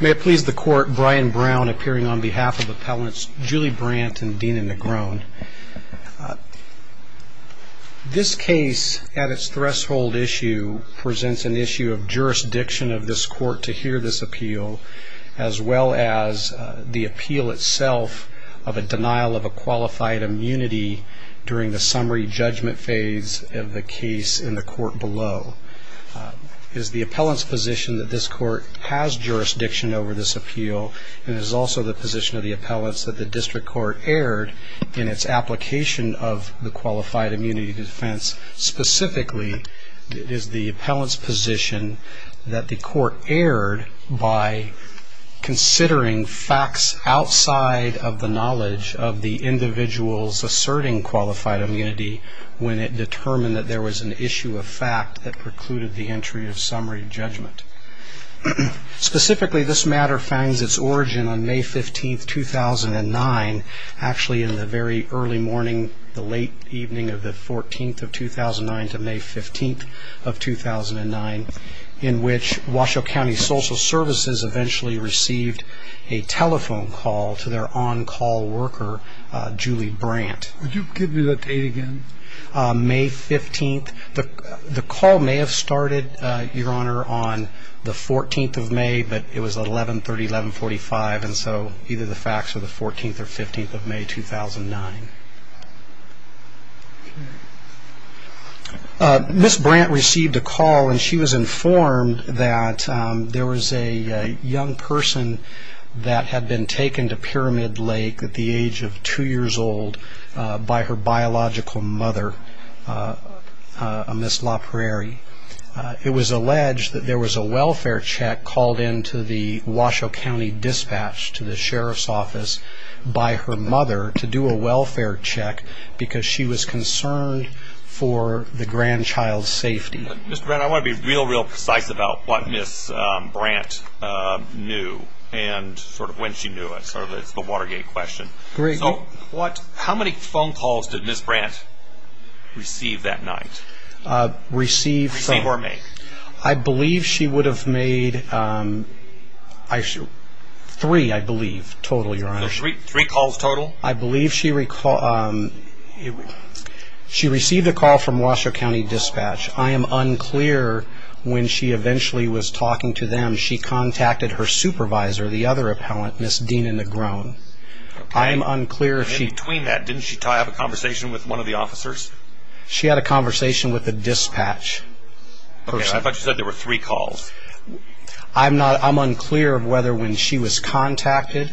May it please the Court, Brian Brown appearing on behalf of Appellants Julie Brandt and Dina Negron. This case at its threshold issue presents an issue of jurisdiction of this court to hear this appeal as well as the appeal itself of a denial of a qualified immunity during the summary judgment phase of the case in the court below. Is the appellants position that this court has jurisdiction over this appeal and is also the position of the appellants that the district court erred in its application of the qualified immunity defense. Specifically it is the appellants position that the court erred by considering facts outside of the knowledge of the individuals asserting qualified immunity when it determined that there was an issue of fact that precluded the entry of summary judgment. Specifically this matter finds its origin on May 15th 2009 actually in the very early morning the late evening of the 14th of 2009 to May 15th of 2009 in which Washoe County Social Services eventually received a telephone call to their on-call worker Julie Brandt. Would you repeat that date again? May 15th the call may have started your honor on the 14th of May but it was 1130 1145 and so either the facts of the 14th or 15th of May 2009. Miss Brandt received a call and she was informed that there was a young person that had been taken to Pyramid Lake at the age of two years old by her biological mother Miss LaPrairie. It was alleged that there was a welfare check called into the Washoe County dispatch to the sheriff's office by her mother to do a welfare check because she was concerned for the grandchild's safety. I want to be real real precise about what Miss Brandt knew and sort of when she knew it. It's the Watergate question. How many phone calls did Miss Brandt receive that night? Receive or make? I believe she would have made three I believe total your honor. Three calls total? I believe she received a call from Washoe County dispatch. I am unclear when she eventually was talking to them. She contacted her supervisor the other appellant Miss Dina Negron. I am unclear if she... In between that didn't she have a conversation with one of the officers? She had a conversation with the dispatch person. I thought you said there were three calls. I'm not I'm unclear of whether when she was contact Miss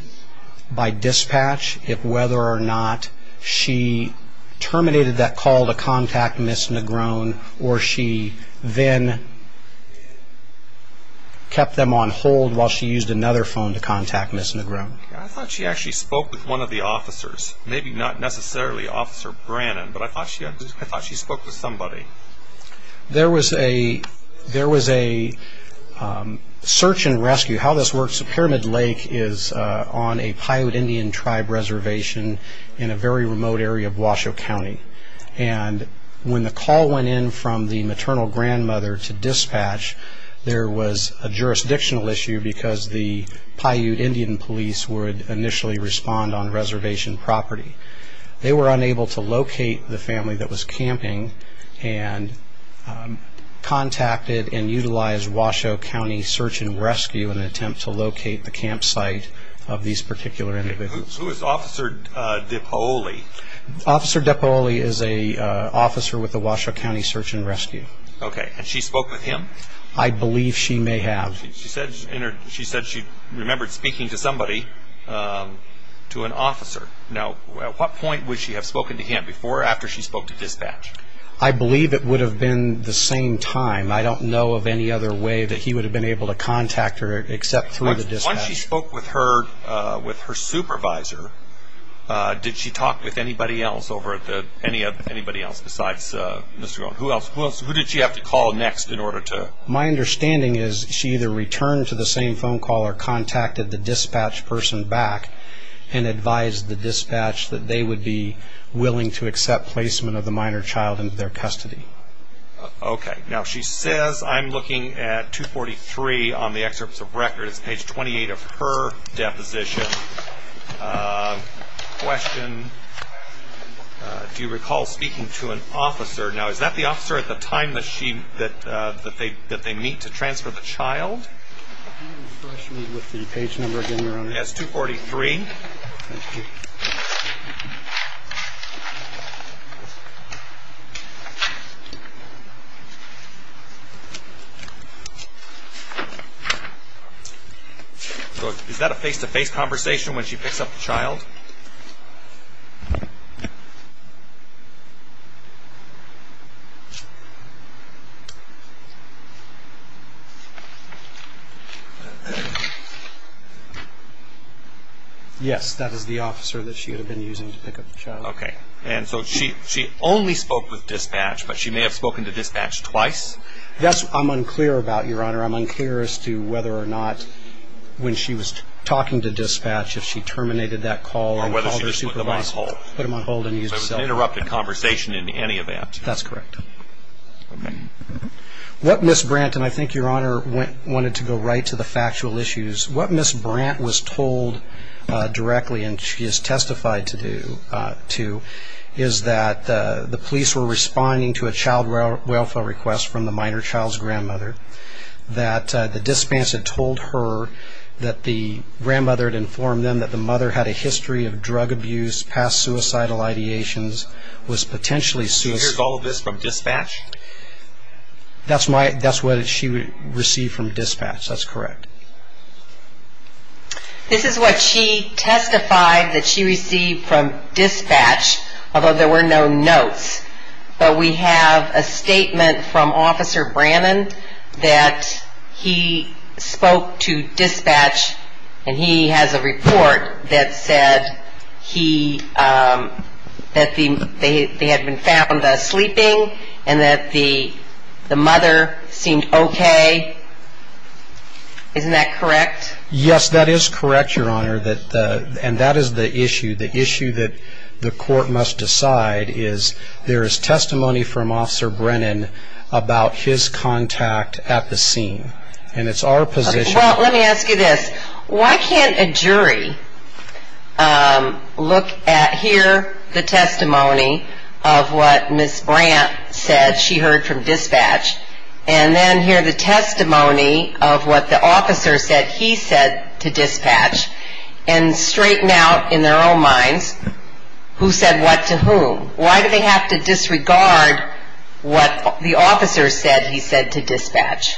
Negron or she then kept them on hold while she used another phone to contact Miss Negron. I thought she actually spoke with one of the officers maybe not necessarily officer Brannon but I thought she I thought she spoke to somebody. There was a there was a search-and-rescue how this works a Pyramid Lake is on a Paiute Indian tribe reservation in a very remote area of Washoe County and when the call went in from the maternal grandmother to dispatch there was a jurisdictional issue because the Paiute Indian police would initially respond on reservation property. They were unable to locate the family that was camping and contacted and utilized Washoe County search-and- rescue an attempt to locate the campsite of these particular individuals. Who is Officer DiPaoli? Officer DiPaoli is a officer with the Washoe County search- and-rescue. Okay and she spoke with him? I believe she may have. She said she said she remembered speaking to somebody to an officer. Now at what point would she have spoken to him before or after she spoke to dispatch? I believe it would have been the same time I don't know of any other way that he would have been able to contact her except through the dispatch. Once she spoke with her with her supervisor did she talk with anybody else over at the any of anybody else besides Mr. Goen? Who else was who did she have to call next in order to? My understanding is she either returned to the same phone call or contacted the dispatch person back and advised the dispatch that they would be willing to accept placement of the minor child into their custody. Okay now she says I'm looking at 243 on the excerpts of record. It's page 28 of her deposition. Question do you recall speaking to an officer? Now is that the officer at the time that she that that they that they meet to transfer the child? With the page number again your honor. That's 243. Thank you. So is that a face-to-face conversation when she picks up the child? Yes that is the officer that she had been using to pick up the child. Okay and so she she only spoke with dispatch but she may have spoken to dispatch twice? That's I'm unclear about your honor. I'm talking to dispatch if she terminated that call. Or whether she just put them on hold. Put them on hold. So it was an interrupted conversation in any event. That's correct. What Miss Brant and I think your honor went wanted to go right to the factual issues. What Miss Brant was told directly and she has testified to do to is that the police were responding to a child welfare request from the minor child's grandmother. That the dispatch had told her that the grandmother had informed them that the mother had a history of drug abuse, past suicidal ideations, was potentially suicidal. So here's all of this from dispatch? That's my that's what she received from dispatch. That's correct. This is what she testified that she received from dispatch although there were no notes. But we have a testimony from officer Brennan that he spoke to dispatch and he has a report that said he that the they had been found sleeping and that the the mother seemed okay. Isn't that correct? Yes that is correct your honor that and that is the issue. The issue that the court must decide is there is testimony from contact at the scene and it's our position. Well let me ask you this why can't a jury look at here the testimony of what Miss Brant said she heard from dispatch and then hear the testimony of what the officer said he said to dispatch and straighten out in their own minds who said what to whom? Why do they have to disregard what the officer said he said to dispatch?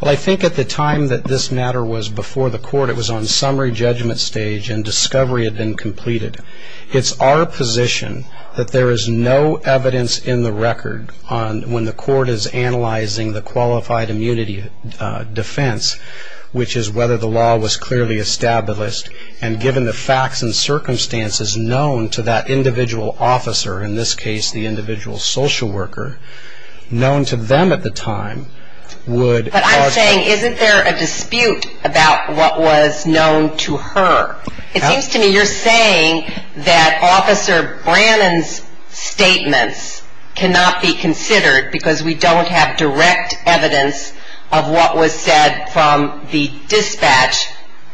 Well I think at the time that this matter was before the court it was on summary judgment stage and discovery had been completed. It's our position that there is no evidence in the record on when the court is analyzing the qualified immunity defense which is whether the law was clearly established and given the facts and the individual social worker known to them at the time. But I'm saying isn't there a dispute about what was known to her? It seems to me you're saying that officer Brannon's statements cannot be considered because we don't have direct evidence of what was said from the dispatch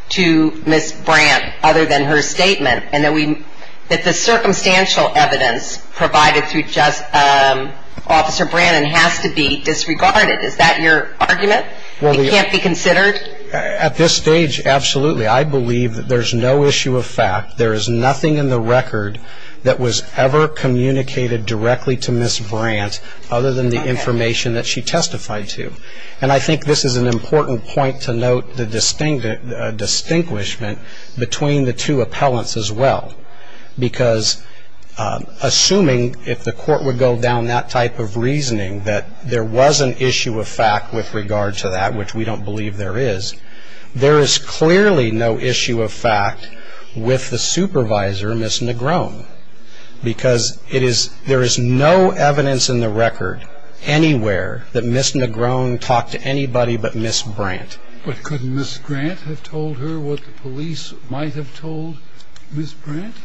to Miss Brant other than her statement and that we that the information that she testified to Officer Brannon has to be disregarded. Is that your argument? It can't be considered? At this stage absolutely. I believe that there's no issue of fact. There is nothing in the record that was ever communicated directly to Miss Brant other than the information that she testified to. And I think this is an important point to note the court would go down that type of reasoning that there was an issue of fact with regard to that which we don't believe there is. There is clearly no issue of fact with the supervisor Miss Negron because it is there is no evidence in the record anywhere that Miss Negron talked to anybody but Miss Brant. But couldn't Miss Brant have told her what the police might have told Miss Brant?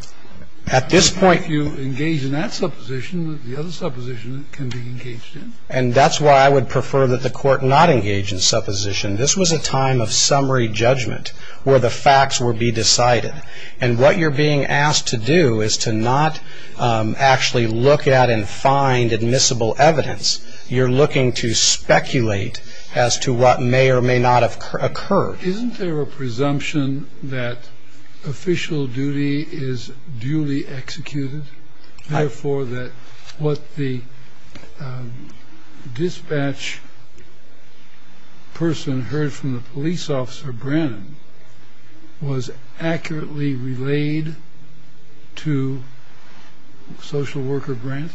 At this point if you engage in that supposition, the other supposition can be engaged in. And that's why I would prefer that the court not engage in supposition. This was a time of summary judgment where the facts would be decided. And what you're being asked to do is to not actually look at and find admissible evidence. You're looking to speculate as to what may or may not have occurred. Isn't there a presumption that official duty is duly executed? Therefore that what the dispatch person heard from the police officer Brant was accurately relayed to social worker Brant?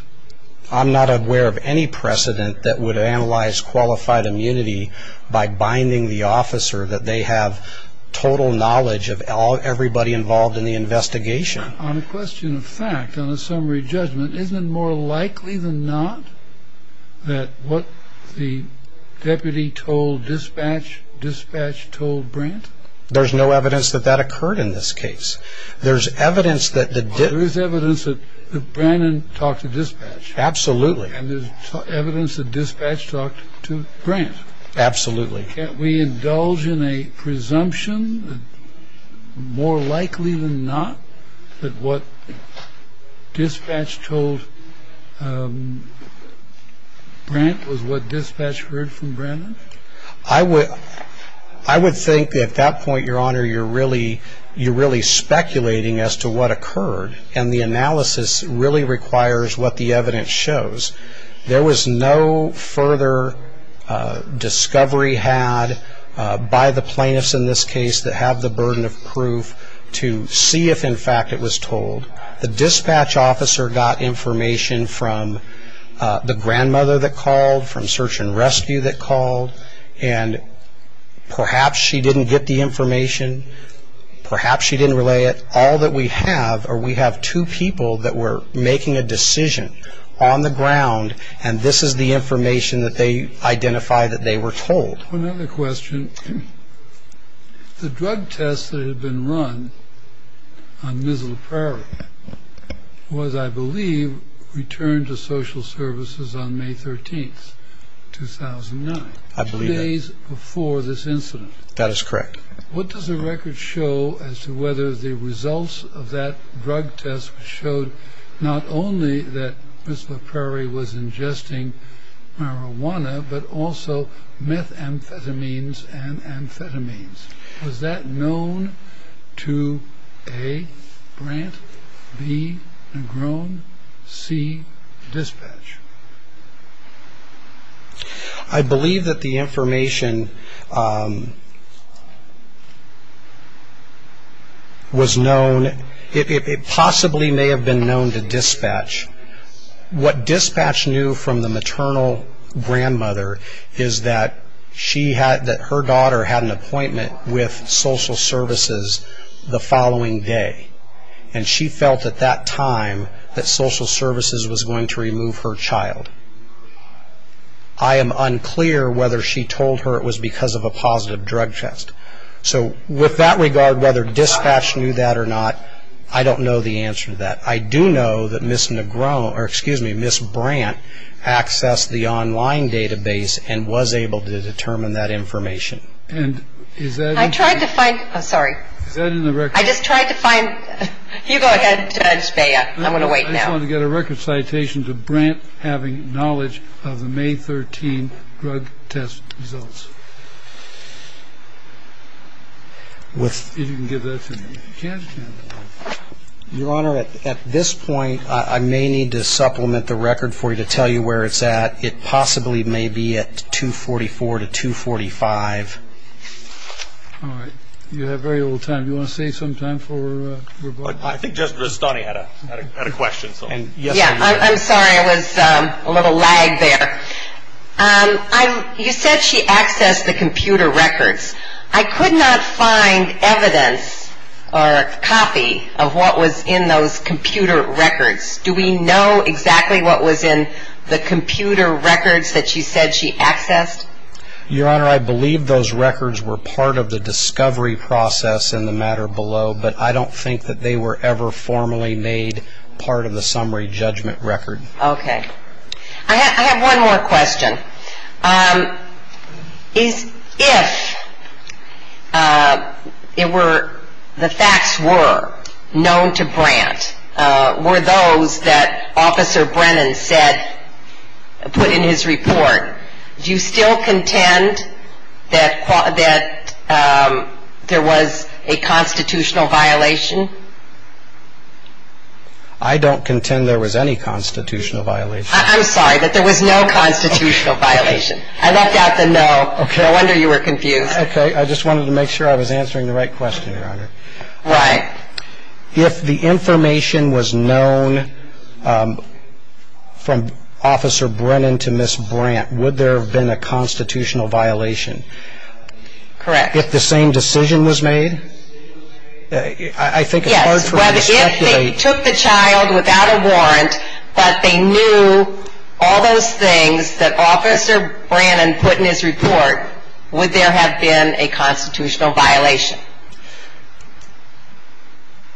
I'm not aware of any precedent that would analyze qualified immunity by binding the officer that they have total knowledge of everybody involved in the investigation. On a question of fact, on a summary judgment, isn't it more likely than not that what the deputy told dispatch, dispatch told Brant? There's no evidence that that occurred in this case. There's evidence that Brant talked to dispatch. Absolutely. And there's evidence that dispatch talked to Brant. Absolutely. Can't we indulge in a presumption that more likely than not that what dispatch told Brant was what dispatch heard from Brant? I would think at that point, your honor, you're really speculating as to what occurred. And the analysis really requires what the evidence shows. There was no further discovery had by the plaintiffs in this case that have the burden of proof to see if in fact it was told. The dispatch officer got information from the grandmother that called from search and rescue that called. And perhaps she didn't get the information. Perhaps she didn't relay it. All that we have are we have two people that were making a decision on the ground. And this is the information that they identify that they were told. One other question. The drug test that had been run on Missoula Prairie was, I believe, returned to social services on May 13th, 2009. I believe that. Two days before this incident. That is correct. What does the record show as to whether the results of that drug test showed not only that Missoula Prairie was ingesting marijuana, but also methamphetamines and amphetamines? Was that known to A, Brant, B, Negron, C, dispatch? I believe that the information was known. It possibly may have been known to dispatch. What dispatch knew from the maternal grandmother is that her daughter had an appointment with social services the following day. And she felt at that time that social services was going to remove her child. I am unclear whether she told her it was because of a positive drug test. So with that regard, whether dispatch knew that or not, I don't know the answer to that. I do know that Miss Negron, or excuse me, Miss Brant accessed the online database and was able to determine that information. I tried to find. I'm sorry. I just tried to find. You go ahead, Judge Beyer. I'm going to wait now. I just wanted to get a record citation to Brant having knowledge of the May 13 drug test results. Your Honor, at this point, I may need to supplement the record for you to tell you where it's at. It possibly may be at 244 to 245. All right. You have very little time. Do you want to save some time for rebuttal? I think Judge Rustoni had a question. I'm sorry. I was a little lagged there. You said she accessed the computer records. I could not find evidence or copy of what was in those computer records. Do we know exactly what was in the computer records that she said she accessed? Your Honor, I believe those records were part of the discovery process in the matter below, but I don't think that they were ever formally made part of the summary judgment record. I have one more question. If the facts were known to Brant, were those that Officer Brennan put in his report, do you still contend that there was a constitutional violation? I don't contend there was any constitutional violation. I'm sorry, that there was no constitutional violation. I left out the no. No wonder you were confused. Okay. I just wanted to make sure I was answering the right question, Your Honor. Right. If the information was known from Officer Brennan to Ms. Brant, would there have been a constitutional violation? Correct. If the same decision was made? I think it's hard for me to speculate. Yes, but if they took the child without a warrant, but they knew all those things that Officer Brennan put in his report, would there have been a constitutional violation?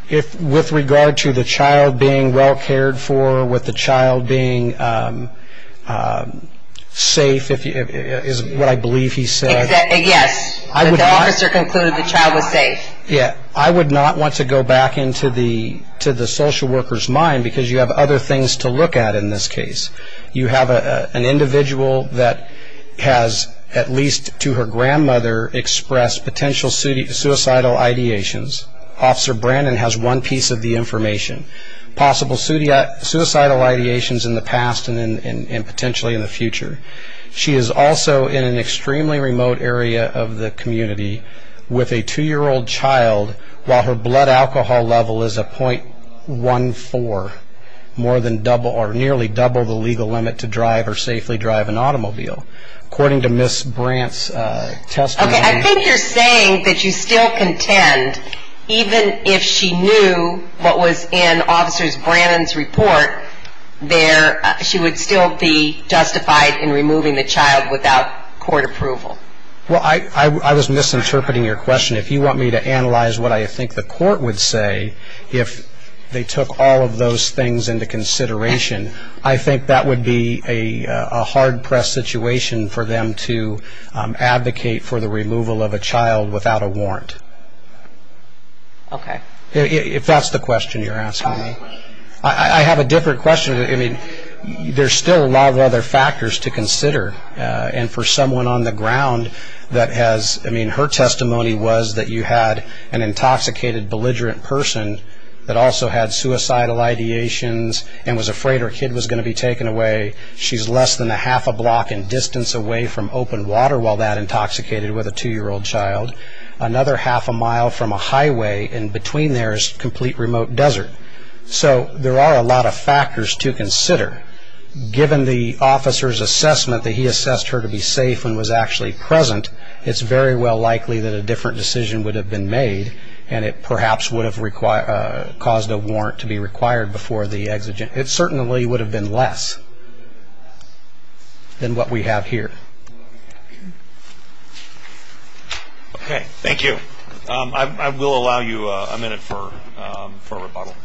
With regard to the child being well cared for, with the child being safe, is what I believe he said. Yes, but the officer concluded the child was safe. I would not want to go back into the social worker's mind because you have other things to look at in this case. You have an individual that has, at least to her grandmother, expressed potential suicidal ideations. Officer Brennan has one piece of the information, possible suicidal ideations in the past and potentially in the future. She is also in an extremely remote area of the community with a two-year-old child, while her blood alcohol level is a .14, nearly double the legal limit to drive or safely drive an automobile. According to Ms. Brant's testimony… Well, I was misinterpreting your question. If you want me to analyze what I think the court would say if they took all of those things into consideration, I think that would be a hard-pressed situation for them to advocate for the removal of a child without a warrant. Okay. If that's the question you're asking me. I have a different question. There's still a lot of other factors to consider. And for someone on the ground that has… I mean, her testimony was that you had an intoxicated, belligerent person that also had suicidal ideations and was afraid her kid was going to be taken away. She's less than a half a block in distance away from open water while that intoxicated with a two-year-old child. Another half a mile from a highway and between there is complete remote desert. So there are a lot of factors to consider. Given the officer's assessment that he assessed her to be safe and was actually present, it's very well likely that a different decision would have been made and it perhaps would have caused a warrant to be required before the exigent. It certainly would have been less than what we have here. Okay. Thank you. Okay. I will allow you a minute for rebuttal.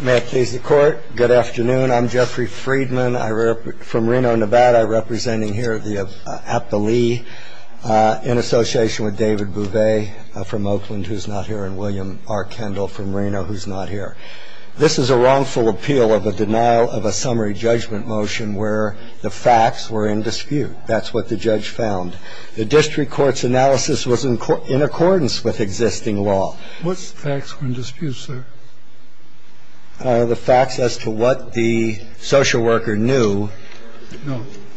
May it please the Court. Good afternoon. I'm Jeffrey Friedman from Reno, Nevada, representing here at the Lee in association with David Bouvet from Oakland, who's not here, and William R. Kendall from Reno, who's not here. I'm here to appeal the article that the district court's analysis was in accordance with existing law. This is a wrongful appeal of a denial of a summary judgment motion where the facts were in dispute. That's what the judge found. The district court's analysis was in accordance with existing law. What facts were in dispute, sir? The facts as to what the social worker knew.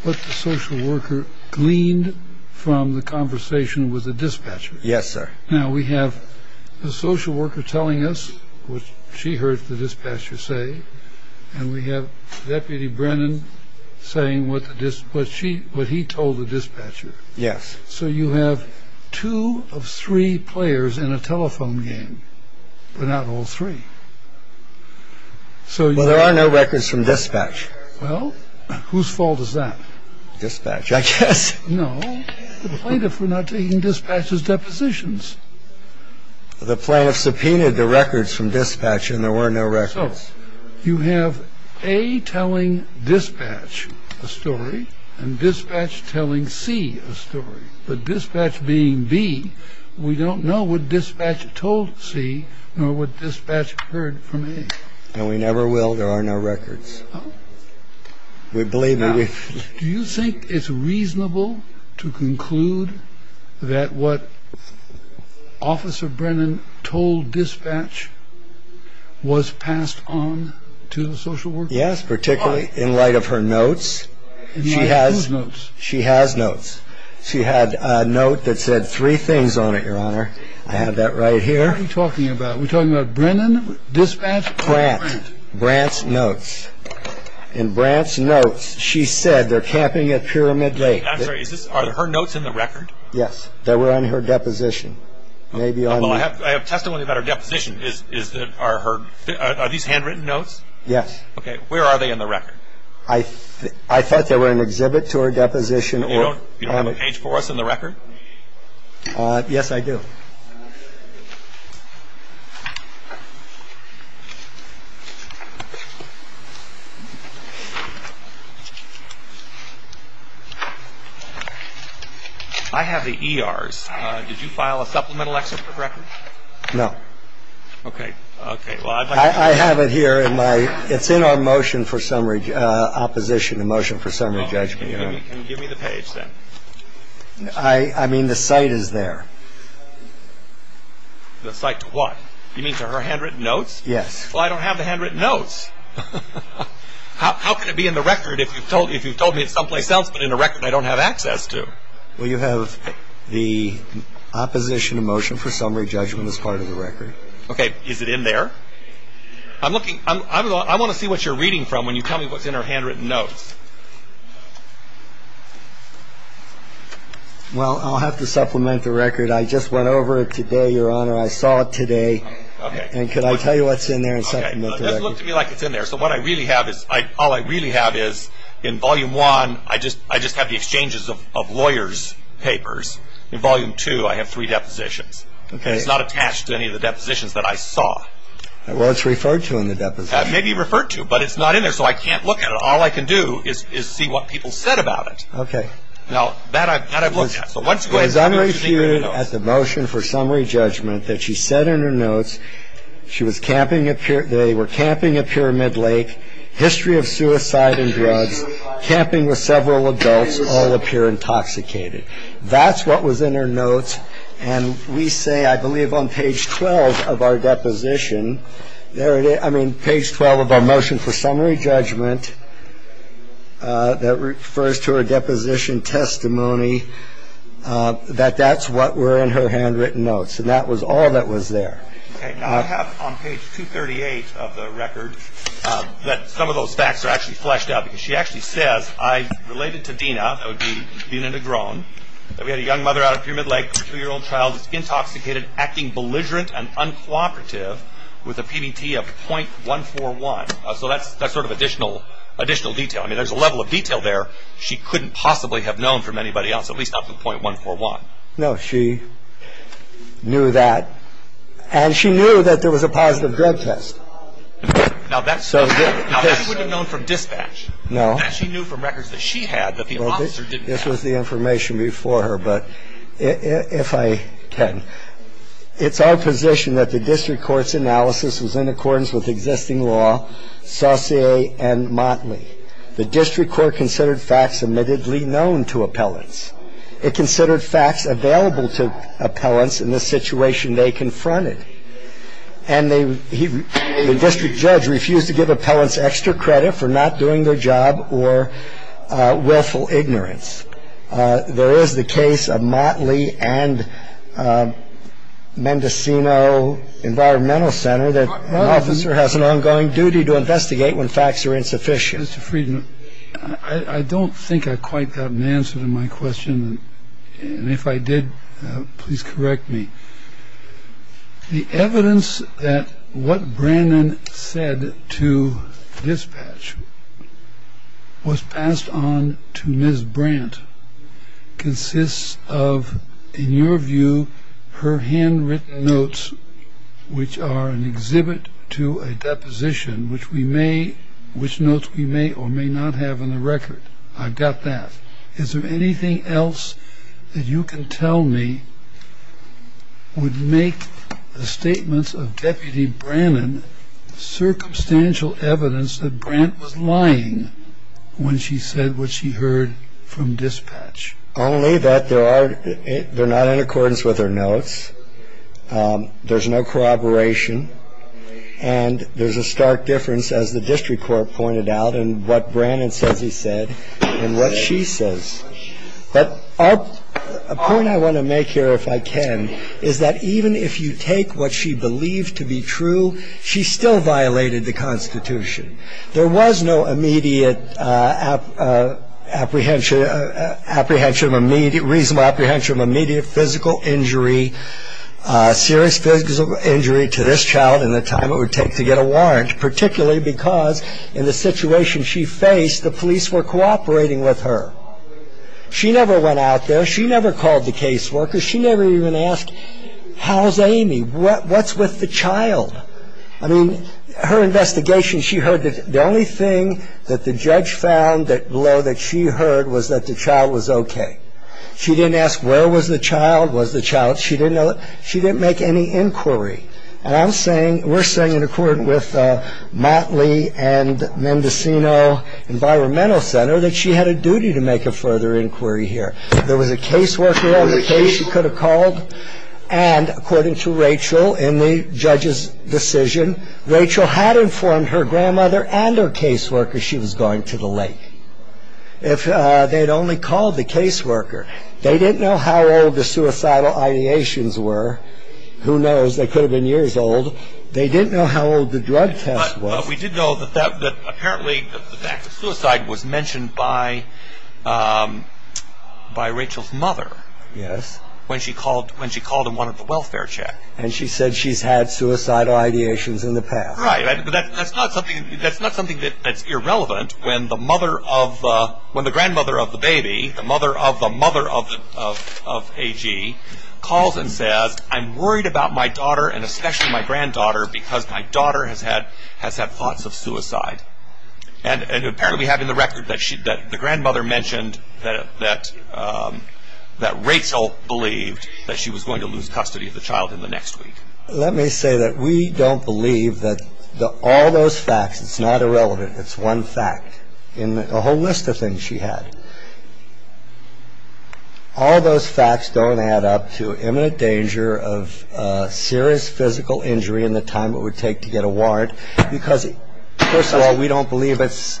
What the social worker gleaned from the conversation with the dispatcher. Yes, sir. Now, we have the social worker telling us what she heard the dispatcher say, and we have Deputy Brennan saying what he told the dispatcher. Yes. So you have two of three players in a telephone game, but not all three. Well, there are no records from dispatch. Well, whose fault is that? Dispatch, I guess. No, the plaintiff for not taking dispatch's depositions. The plaintiff subpoenaed the records from dispatch, and there were no records. So you have A telling dispatch a story and dispatch telling C a story. But dispatch being B, we don't know what dispatch told C nor what dispatch heard from A. And we never will. There are no records. Do you think it's reasonable to conclude that what Officer Brennan told dispatch was passed on to the social worker? Yes, particularly in light of her notes. In light of whose notes? She has notes. She had a note that said three things on it, Your Honor. I have that right here. What are we talking about? Are we talking about Brennan, dispatch, or Brant? Brant. Brant's notes. In Brant's notes, she said they're camping at Pyramid Lake. I'm sorry. Are her notes in the record? Yes. They were on her deposition. Although I have testimony about her deposition. Are these handwritten notes? Yes. Okay. Where are they in the record? I thought they were an exhibit to her deposition. You don't have a page for us in the record? Yes, I do. I have the ERs. Did you file a supplemental exit for the record? No. Okay. Well, I'd like to see it. I have it here in my ‑‑ it's in our motion for summary opposition, the motion for summary judgment. Can you give me the page then? I mean, the site is there. The site to what? You mean to her handwritten notes? Yes. Well, I don't have the handwritten notes. How can it be in the record if you've told me it's someplace else but in the record I don't have access to? Well, you have the opposition motion for summary judgment as part of the record. Okay. Is it in there? I'm looking ‑‑ I want to see what you're reading from when you tell me what's in her handwritten notes. Well, I'll have to supplement the record. I just went over it today, Your Honor. I saw it today. Okay. And could I tell you what's in there and supplement the record? Okay. It doesn't look to me like it's in there. So what I really have is ‑‑ all I really have is in Volume 1 I just have the exchanges of lawyers' papers. In Volume 2 I have three depositions. Okay. And it's not attached to any of the depositions that I saw. Well, it's referred to in the depositions. Maybe referred to, but it's not in there, so I can't look at it. All I can do is see what people said about it. Okay. Now, that I've looked at. So once again, I just need your notes. It was under reviewed at the motion for summary judgment that she said in her notes she was camping at ‑‑ they were camping at Pyramid Lake, history of suicide and drugs, camping with several adults, all appear intoxicated. That's what was in her notes. And we say, I believe, on page 12 of our deposition, there it is, I mean, page 12 of our motion for summary judgment, that refers to her deposition testimony, that that's what were in her handwritten notes. And that was all that was there. Okay. Now, I have on page 238 of the record that some of those facts are actually fleshed out, because she actually says, I related to Dina, Dina Negron, that we had a young mother out at Pyramid Lake, a two‑year‑old child that's intoxicated, acting belligerent and uncooperative with a PBT of .141. So that's sort of additional detail. I mean, there's a level of detail there she couldn't possibly have known from anybody else, at least up to .141. No, she knew that. And she knew that there was a positive drug test. Now, that's so ‑‑ Now, she wouldn't have known from dispatch. No. She knew from records that she had that the officer didn't have. Well, this was the information before her. But if I can, it's our position that the district court's analysis was in accordance with existing law, Saucier and Motley. The district court considered facts admittedly known to appellants. It considered facts available to appellants in the situation they confronted. And the district judge refused to give appellants extra credit for not doing their job or willful ignorance. There is the case of Motley and Mendocino Environmental Center that an officer has an ongoing duty to investigate when facts are insufficient. Mr. Friedman, I don't think I quite got an answer to my question. And if I did, please correct me. The evidence that what Brannon said to dispatch was passed on to Ms. Brandt consists of, in your view, her handwritten notes, which are an exhibit to a deposition, which we may ‑‑ which notes we may or may not have in the record. I've got that. Is there anything else that you can tell me would make the statements of Deputy Brannon circumstantial evidence that Brandt was lying when she said what she heard from dispatch? Only that there are ‑‑ they're not in accordance with her notes. There's no corroboration. And there's a stark difference, as the district court pointed out, in what Brannon says he said and what she says. But a point I want to make here, if I can, is that even if you take what she believed to be true, she still violated the Constitution. There was no immediate apprehension, reasonable apprehension of immediate physical injury, serious physical injury to this child in the time it would take to get a warrant, particularly because in the situation she faced, the police were cooperating with her. She never went out there. She never called the caseworkers. She never even asked, how's Amy? What's with the child? I mean, her investigation, she heard that the only thing that the judge found below that she heard was that the child was okay. She didn't ask where was the child, was the child ‑‑ she didn't make any inquiry. And I'm saying, we're saying in accordance with Motley and Mendocino Environmental Center that she had a duty to make a further inquiry here. There was a caseworker on the case she could have called. And according to Rachel, in the judge's decision, Rachel had informed her grandmother and her caseworker she was going to the lake. If they had only called the caseworker. They didn't know how old the suicidal ideations were. Who knows? They could have been years old. They didn't know how old the drug test was. But we did know that apparently the fact that suicide was mentioned by Rachel's mother. Yes. When she called and wanted the welfare check. And she said she's had suicidal ideations in the past. Right. But that's not something that's irrelevant when the mother of the ‑‑ when the grandmother of the baby, the mother of the mother of AG calls and says, I'm worried about my daughter and especially my granddaughter because my daughter has had thoughts of suicide. And apparently having the record that the grandmother mentioned that Rachel believed that she was going to lose custody of the child in the next week. Let me say that we don't believe that all those facts, it's not irrelevant. It's one fact. In a whole list of things she had. All those facts don't add up to imminent danger of serious physical injury in the time it would take to get a warrant because, first of all, we don't believe it's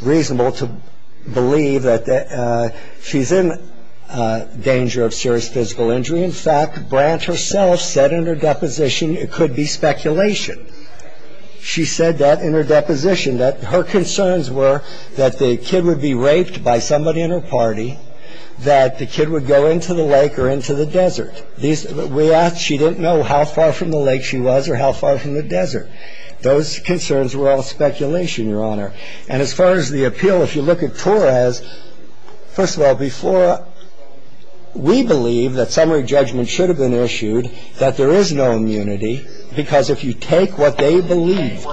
reasonable to believe that she's in danger of serious physical injury. In fact, Branch herself said in her deposition it could be speculation. She said that in her deposition, that her concerns were that the kid would be raped by somebody in her party, that the kid would go into the lake or into the desert. We asked, she didn't know how far from the lake she was or how far from the desert. Those concerns were all speculation, Your Honor. And as far as the appeal, if you look at Torres, first of all, before we believe that summary judgment should have been issued, that there is no immunity because if you take what they believed,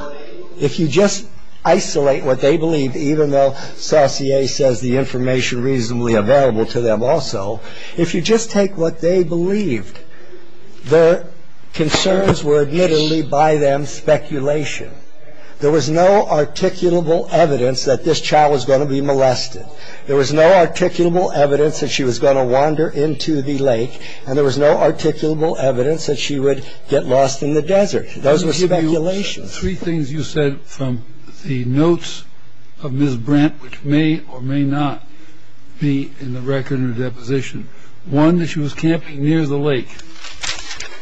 if you just isolate what they believed, even though Saucier says the information reasonably available to them also, if you just take what they believed, their concerns were admittedly by them speculation. There was no articulable evidence that this child was going to be molested. There was no articulable evidence that she was going to wander into the lake and there was no articulable evidence that she would get lost in the desert. Those were speculations. Three things you said from the notes of Ms. Brant, which may or may not be in the record in her deposition. One, that she was camping near the lake.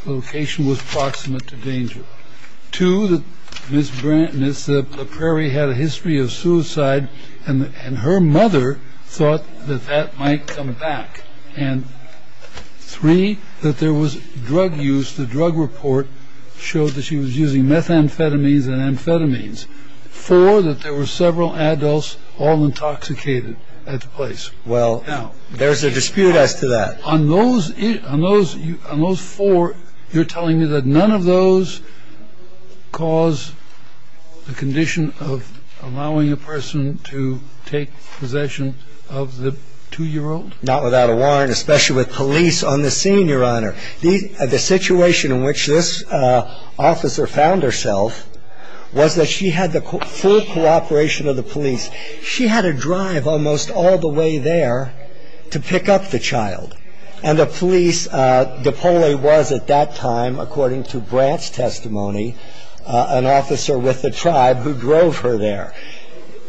The location was proximate to danger. Two, that Ms. Brant and Ms. La Prairie had a history of suicide and her mother thought that that might come back. And three, that there was drug use. The drug report showed that she was using methamphetamines and amphetamines. Four, that there were several adults all intoxicated at the place. Well, there's a dispute as to that. On those four, you're telling me that none of those cause the condition of allowing a person to take possession of the two-year-old? Not without a warrant, especially with police on the scene, Your Honor. The situation in which this officer found herself was that she had the full cooperation of the police. She had to drive almost all the way there to pick up the child. And the police, DePaule was at that time, according to Brant's testimony, an officer with the tribe who drove her there.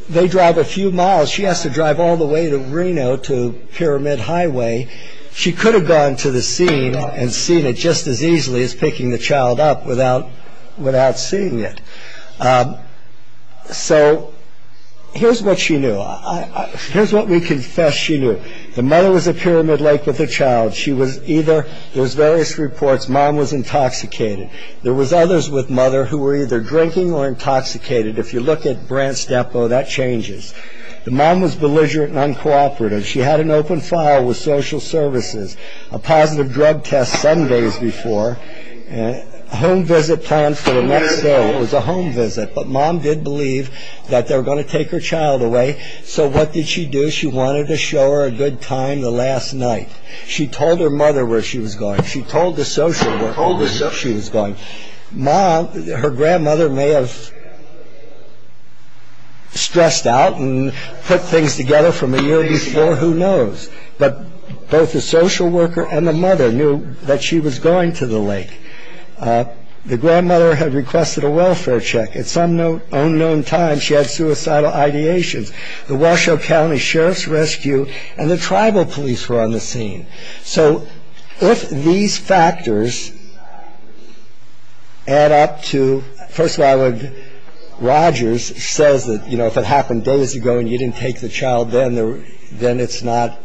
They drive a few miles. She has to drive all the way to Reno to Pyramid Highway. She could have gone to the scene and seen it just as easily as picking the child up without seeing it. So here's what she knew. Here's what we confess she knew. The mother was at Pyramid Lake with the child. She was either, there's various reports, mom was intoxicated. There was others with mother who were either drinking or intoxicated. If you look at Brant's depot, that changes. The mom was belligerent and uncooperative. She had an open file with social services, a positive drug test seven days before, a home visit planned for the next day. It was a home visit. But mom did believe that they were going to take her child away. So what did she do? She wanted to show her a good time the last night. She told her mother where she was going. She told the social worker where she was going. Her grandmother may have stressed out and put things together from a year before. Who knows? But both the social worker and the mother knew that she was going to the lake. The grandmother had requested a welfare check. At some unknown time, she had suicidal ideations. The Washoe County Sheriff's Rescue and the tribal police were on the scene. So if these factors add up to, first of all, Rogers says that, you know, if it happened days ago and you didn't take the child then, then it's not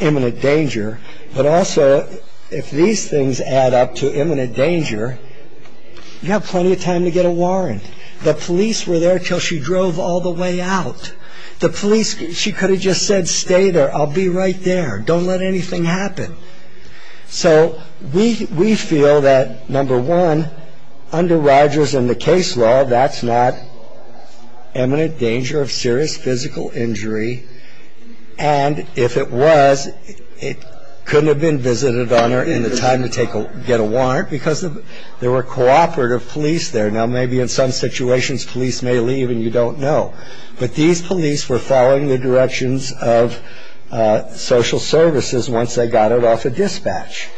imminent danger. But also if these things add up to imminent danger, you have plenty of time to get a warrant. The police were there until she drove all the way out. The police, she could have just said, stay there. I'll be right there. Don't let anything happen. So we feel that, number one, under Rogers and the case law, that's not imminent danger of serious physical injury. And if it was, it couldn't have been visited on her in the time to get a warrant because there were cooperative police there. Now, maybe in some situations police may leave and you don't know. But these police were following the directions of social services once they got it off a dispatch.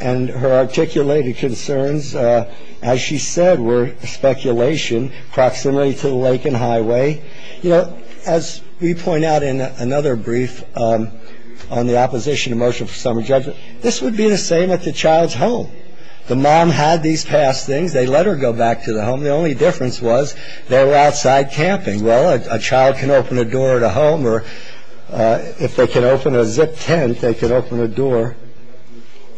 And her articulated concerns, as she said, were speculation, proximity to the lake and highway. You know, as we point out in another brief on the opposition to motion for summary judgment, this would be the same at the child's home. The mom had these past things. They let her go back to the home. The only difference was they were outside camping. Well, a child can open a door at a home or if they can open a zip tent, they can open a door.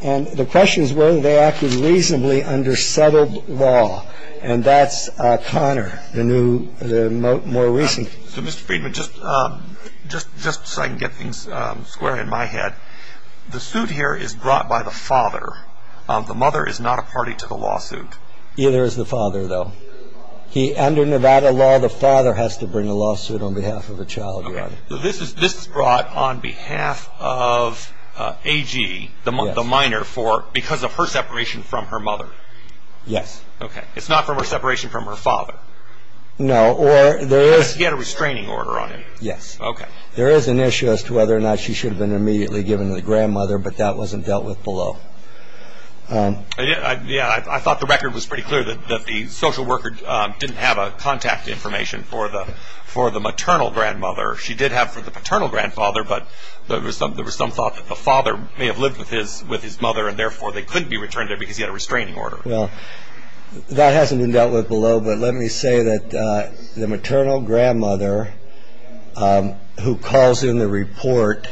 And the question is whether they acted reasonably under settled law. And that's Connor, the new, the more recent. So, Mr. Friedman, just so I can get things square in my head, the suit here is brought by the father. The mother is not a party to the lawsuit. Neither is the father, though. Under Nevada law, the father has to bring a lawsuit on behalf of a child. Okay. So this is brought on behalf of AG, the minor, because of her separation from her mother. Yes. Okay. It's not from her separation from her father. No, or there is. Because he had a restraining order on him. Yes. Okay. There is an issue as to whether or not she should have been immediately given to the grandmother, but that wasn't dealt with below. Yeah. I thought the record was pretty clear that the social worker didn't have a contact information for the maternal grandmother. She did have for the paternal grandfather, but there was some thought that the father may have lived with his mother and therefore they couldn't be returned there because he had a restraining order. Well, that hasn't been dealt with below. But let me say that the maternal grandmother, who calls in the report,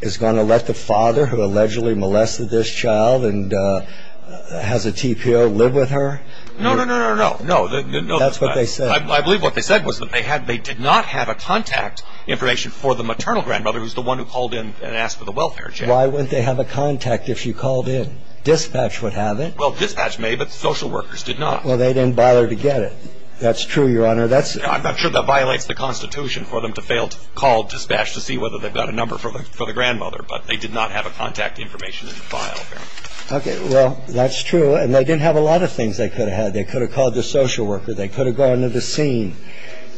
is going to let the father, who allegedly molested this child and has a TPO, live with her? No, no, no, no, no, no. That's what they said. I believe what they said was that they did not have a contact information for the maternal grandmother, who's the one who called in and asked for the welfare check. Why wouldn't they have a contact if she called in? Dispatch would have it. Well, dispatch may, but social workers did not. Well, they didn't bother to get it. That's true, Your Honor. I'm not sure that violates the Constitution for them to fail to call dispatch to see whether they've got a number for the grandmother, but they did not have a contact information in the file. Okay. Well, that's true. And they didn't have a lot of things they could have had. They could have called the social worker. They could have gone to the scene.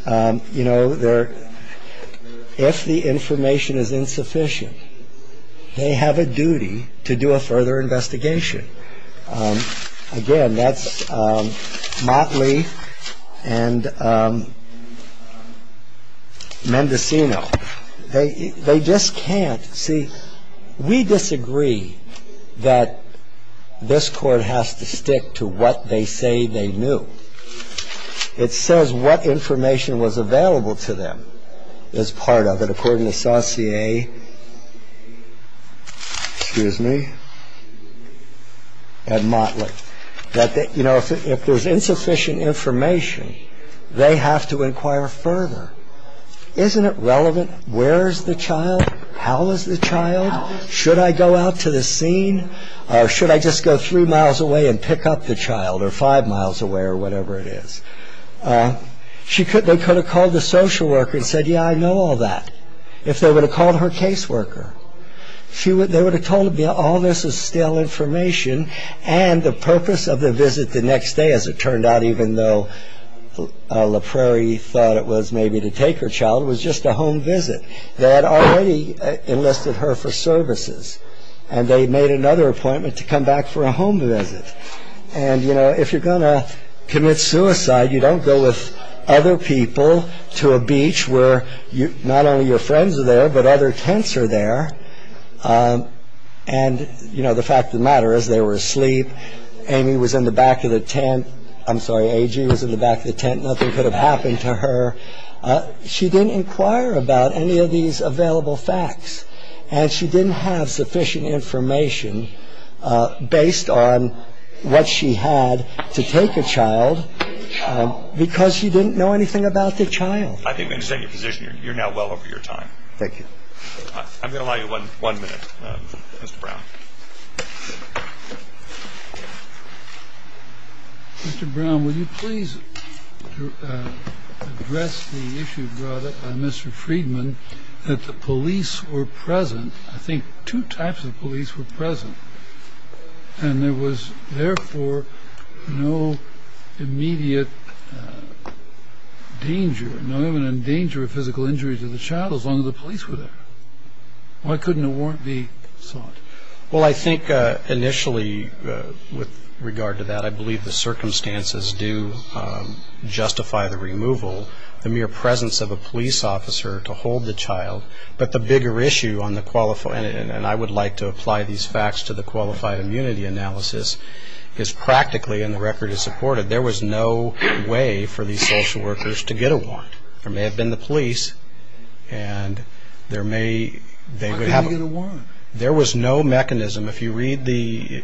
You know, if the information is insufficient, they have a duty to do a further investigation. Again, that's Motley and Mendocino. They just can't. See, we disagree that this Court has to stick to what they say they knew. It says what information was available to them is part of it. So they're not aware that they have to go to the scene. And it says, according to Saucier, excuse me, and Motley, that, you know, if there's insufficient information, they have to inquire further. Isn't it relevant? Where is the child? How is the child? Should I go out to the scene, or should I just go three miles away and pick up the child, or five miles away, or whatever it is? They could have called the social worker and said, yeah, I know all that, if they would have called her caseworker. They would have told her, yeah, all this is stale information, and the purpose of the visit the next day, as it turned out, even though La Prairie thought it was maybe to take her child, it was just a home visit. They had already enlisted her for services, and they made another appointment to come back for a home visit. And, you know, if you're going to commit suicide, you don't go with other people to a beach where not only your friends are there, but other tents are there. And, you know, the fact of the matter is they were asleep. Amy was in the back of the tent. I'm sorry, A.G. was in the back of the tent. Nothing could have happened to her. She didn't inquire about any of these available facts, and she didn't have sufficient information based on what she had to take a child because she didn't know anything about the child. I think we understand your position. You're now well over your time. Thank you. I'm going to allow you one minute, Mr. Brown. Mr. Brown, would you please address the issue brought up by Mr. Friedman that the police were present? I think two types of police were present, and there was therefore no immediate danger, not even a danger of physical injury to the child as long as the police were there. Why couldn't a warrant be sought? Well, I think initially with regard to that, I believe the circumstances do justify the removal, the mere presence of a police officer to hold the child. But the bigger issue, and I would like to apply these facts to the qualified immunity analysis, is practically, and the record is supportive, there was no way for these social workers to get a warrant. There may have been the police, and there may have been a warrant. There was no mechanism. If you read the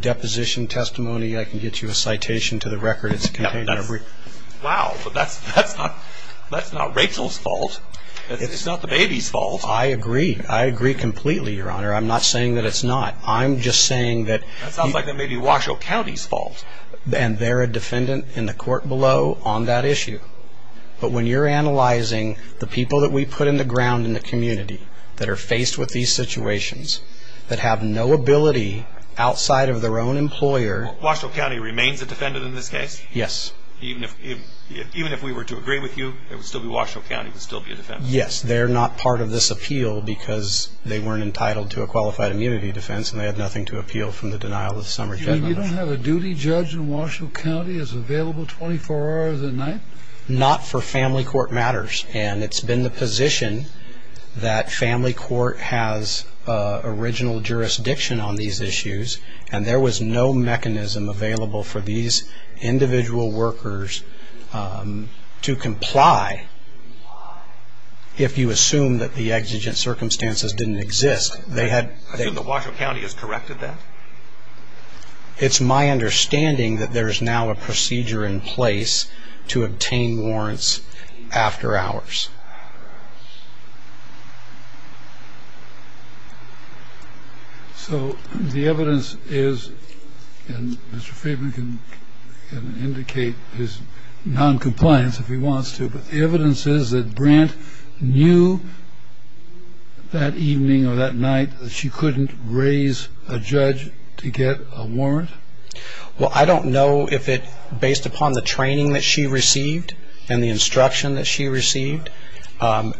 deposition testimony, I can get you a citation to the record. Wow, but that's not Rachel's fault. It's not the baby's fault. I agree. I agree completely, Your Honor. I'm not saying that it's not. I'm just saying that – That sounds like it may be Washoe County's fault. And they're a defendant in the court below on that issue. But when you're analyzing the people that we put in the ground in the community that are faced with these situations, that have no ability outside of their own employer – Washoe County remains a defendant in this case? Yes. Even if we were to agree with you, it would still be Washoe County would still be a defendant? Yes. They're not part of this appeal because they weren't entitled to a qualified immunity defense, and they had nothing to appeal from the denial of the summer general. You mean you don't have a duty judge in Washoe County that's available 24 hours a night? Not for family court matters. And it's been the position that family court has original jurisdiction on these issues, and there was no mechanism available for these individual workers to comply if you assume that the exigent circumstances didn't exist. I assume that Washoe County has corrected that? It's my understanding that there's now a procedure in place to obtain warrants after hours. So the evidence is – and Mr. Friedman can indicate his noncompliance if he wants to – the evidence is that Brandt knew that evening or that night that she couldn't raise a judge to get a warrant? Well, I don't know if it – based upon the training that she received and the instruction that she received,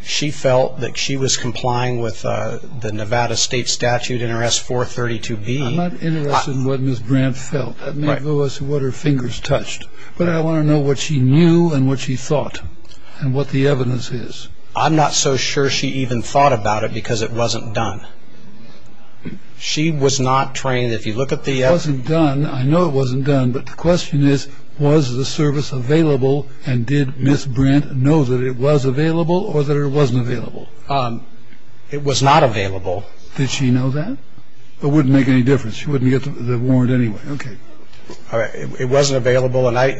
she felt that she was complying with the Nevada state statute in her S-432B. I'm not interested in what Ms. Brandt felt. That may go as to what her fingers touched. But I want to know what she knew and what she thought and what the evidence is. I'm not so sure she even thought about it because it wasn't done. She was not trained. If you look at the – It wasn't done. I know it wasn't done. But the question is, was the service available, and did Ms. Brandt know that it was available or that it wasn't available? It was not available. Did she know that? It wouldn't make any difference. She wouldn't get the warrant anyway. Okay. It wasn't available, and I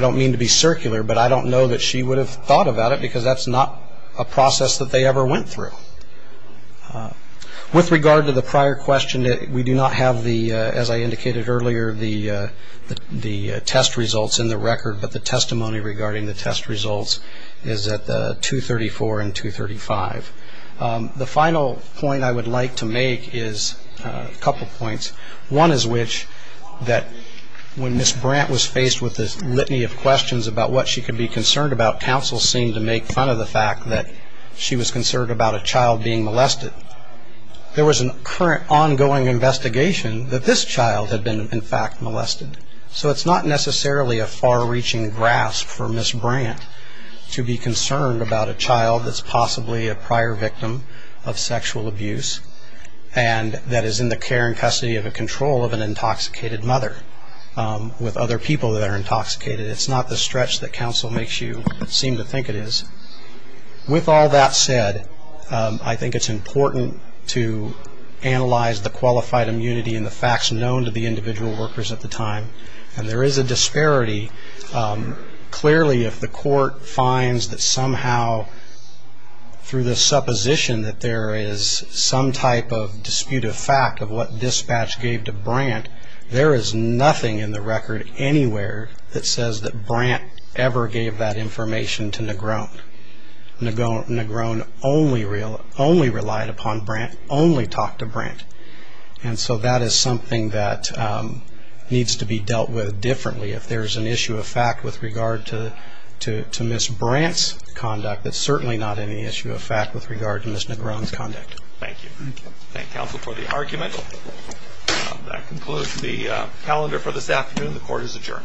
don't mean to be circular, but I don't know that she would have thought about it because that's not a process that they ever went through. With regard to the prior question, we do not have the, as I indicated earlier, the test results in the record, but the testimony regarding the test results is at 234 and 235. The final point I would like to make is a couple points. One is which that when Ms. Brandt was faced with this litany of questions about what she could be concerned about, counsel seemed to make fun of the fact that she was concerned about a child being molested. There was an ongoing investigation that this child had been, in fact, molested. So it's not necessarily a far-reaching grasp for Ms. Brandt to be concerned about a child that's possibly a prior victim of sexual abuse and that is in the care and custody of a control of an intoxicated mother with other people that are intoxicated. It's not the stretch that counsel makes you seem to think it is. With all that said, I think it's important to analyze the qualified immunity and the facts known to the individual workers at the time, and there is a disparity. Clearly, if the court finds that somehow through the supposition that there is some type of disputed fact of what dispatch gave to Brandt, there is nothing in the record anywhere that says that Brandt ever gave that information to Negron. Negron only relied upon Brandt, only talked to Brandt. And so that is something that needs to be dealt with differently. If there is an issue of fact with regard to Ms. Brandt's conduct, that's certainly not an issue of fact with regard to Ms. Negron's conduct. Thank you. Thank counsel for the argument. That concludes the calendar for this afternoon. The court is adjourned. Thank you.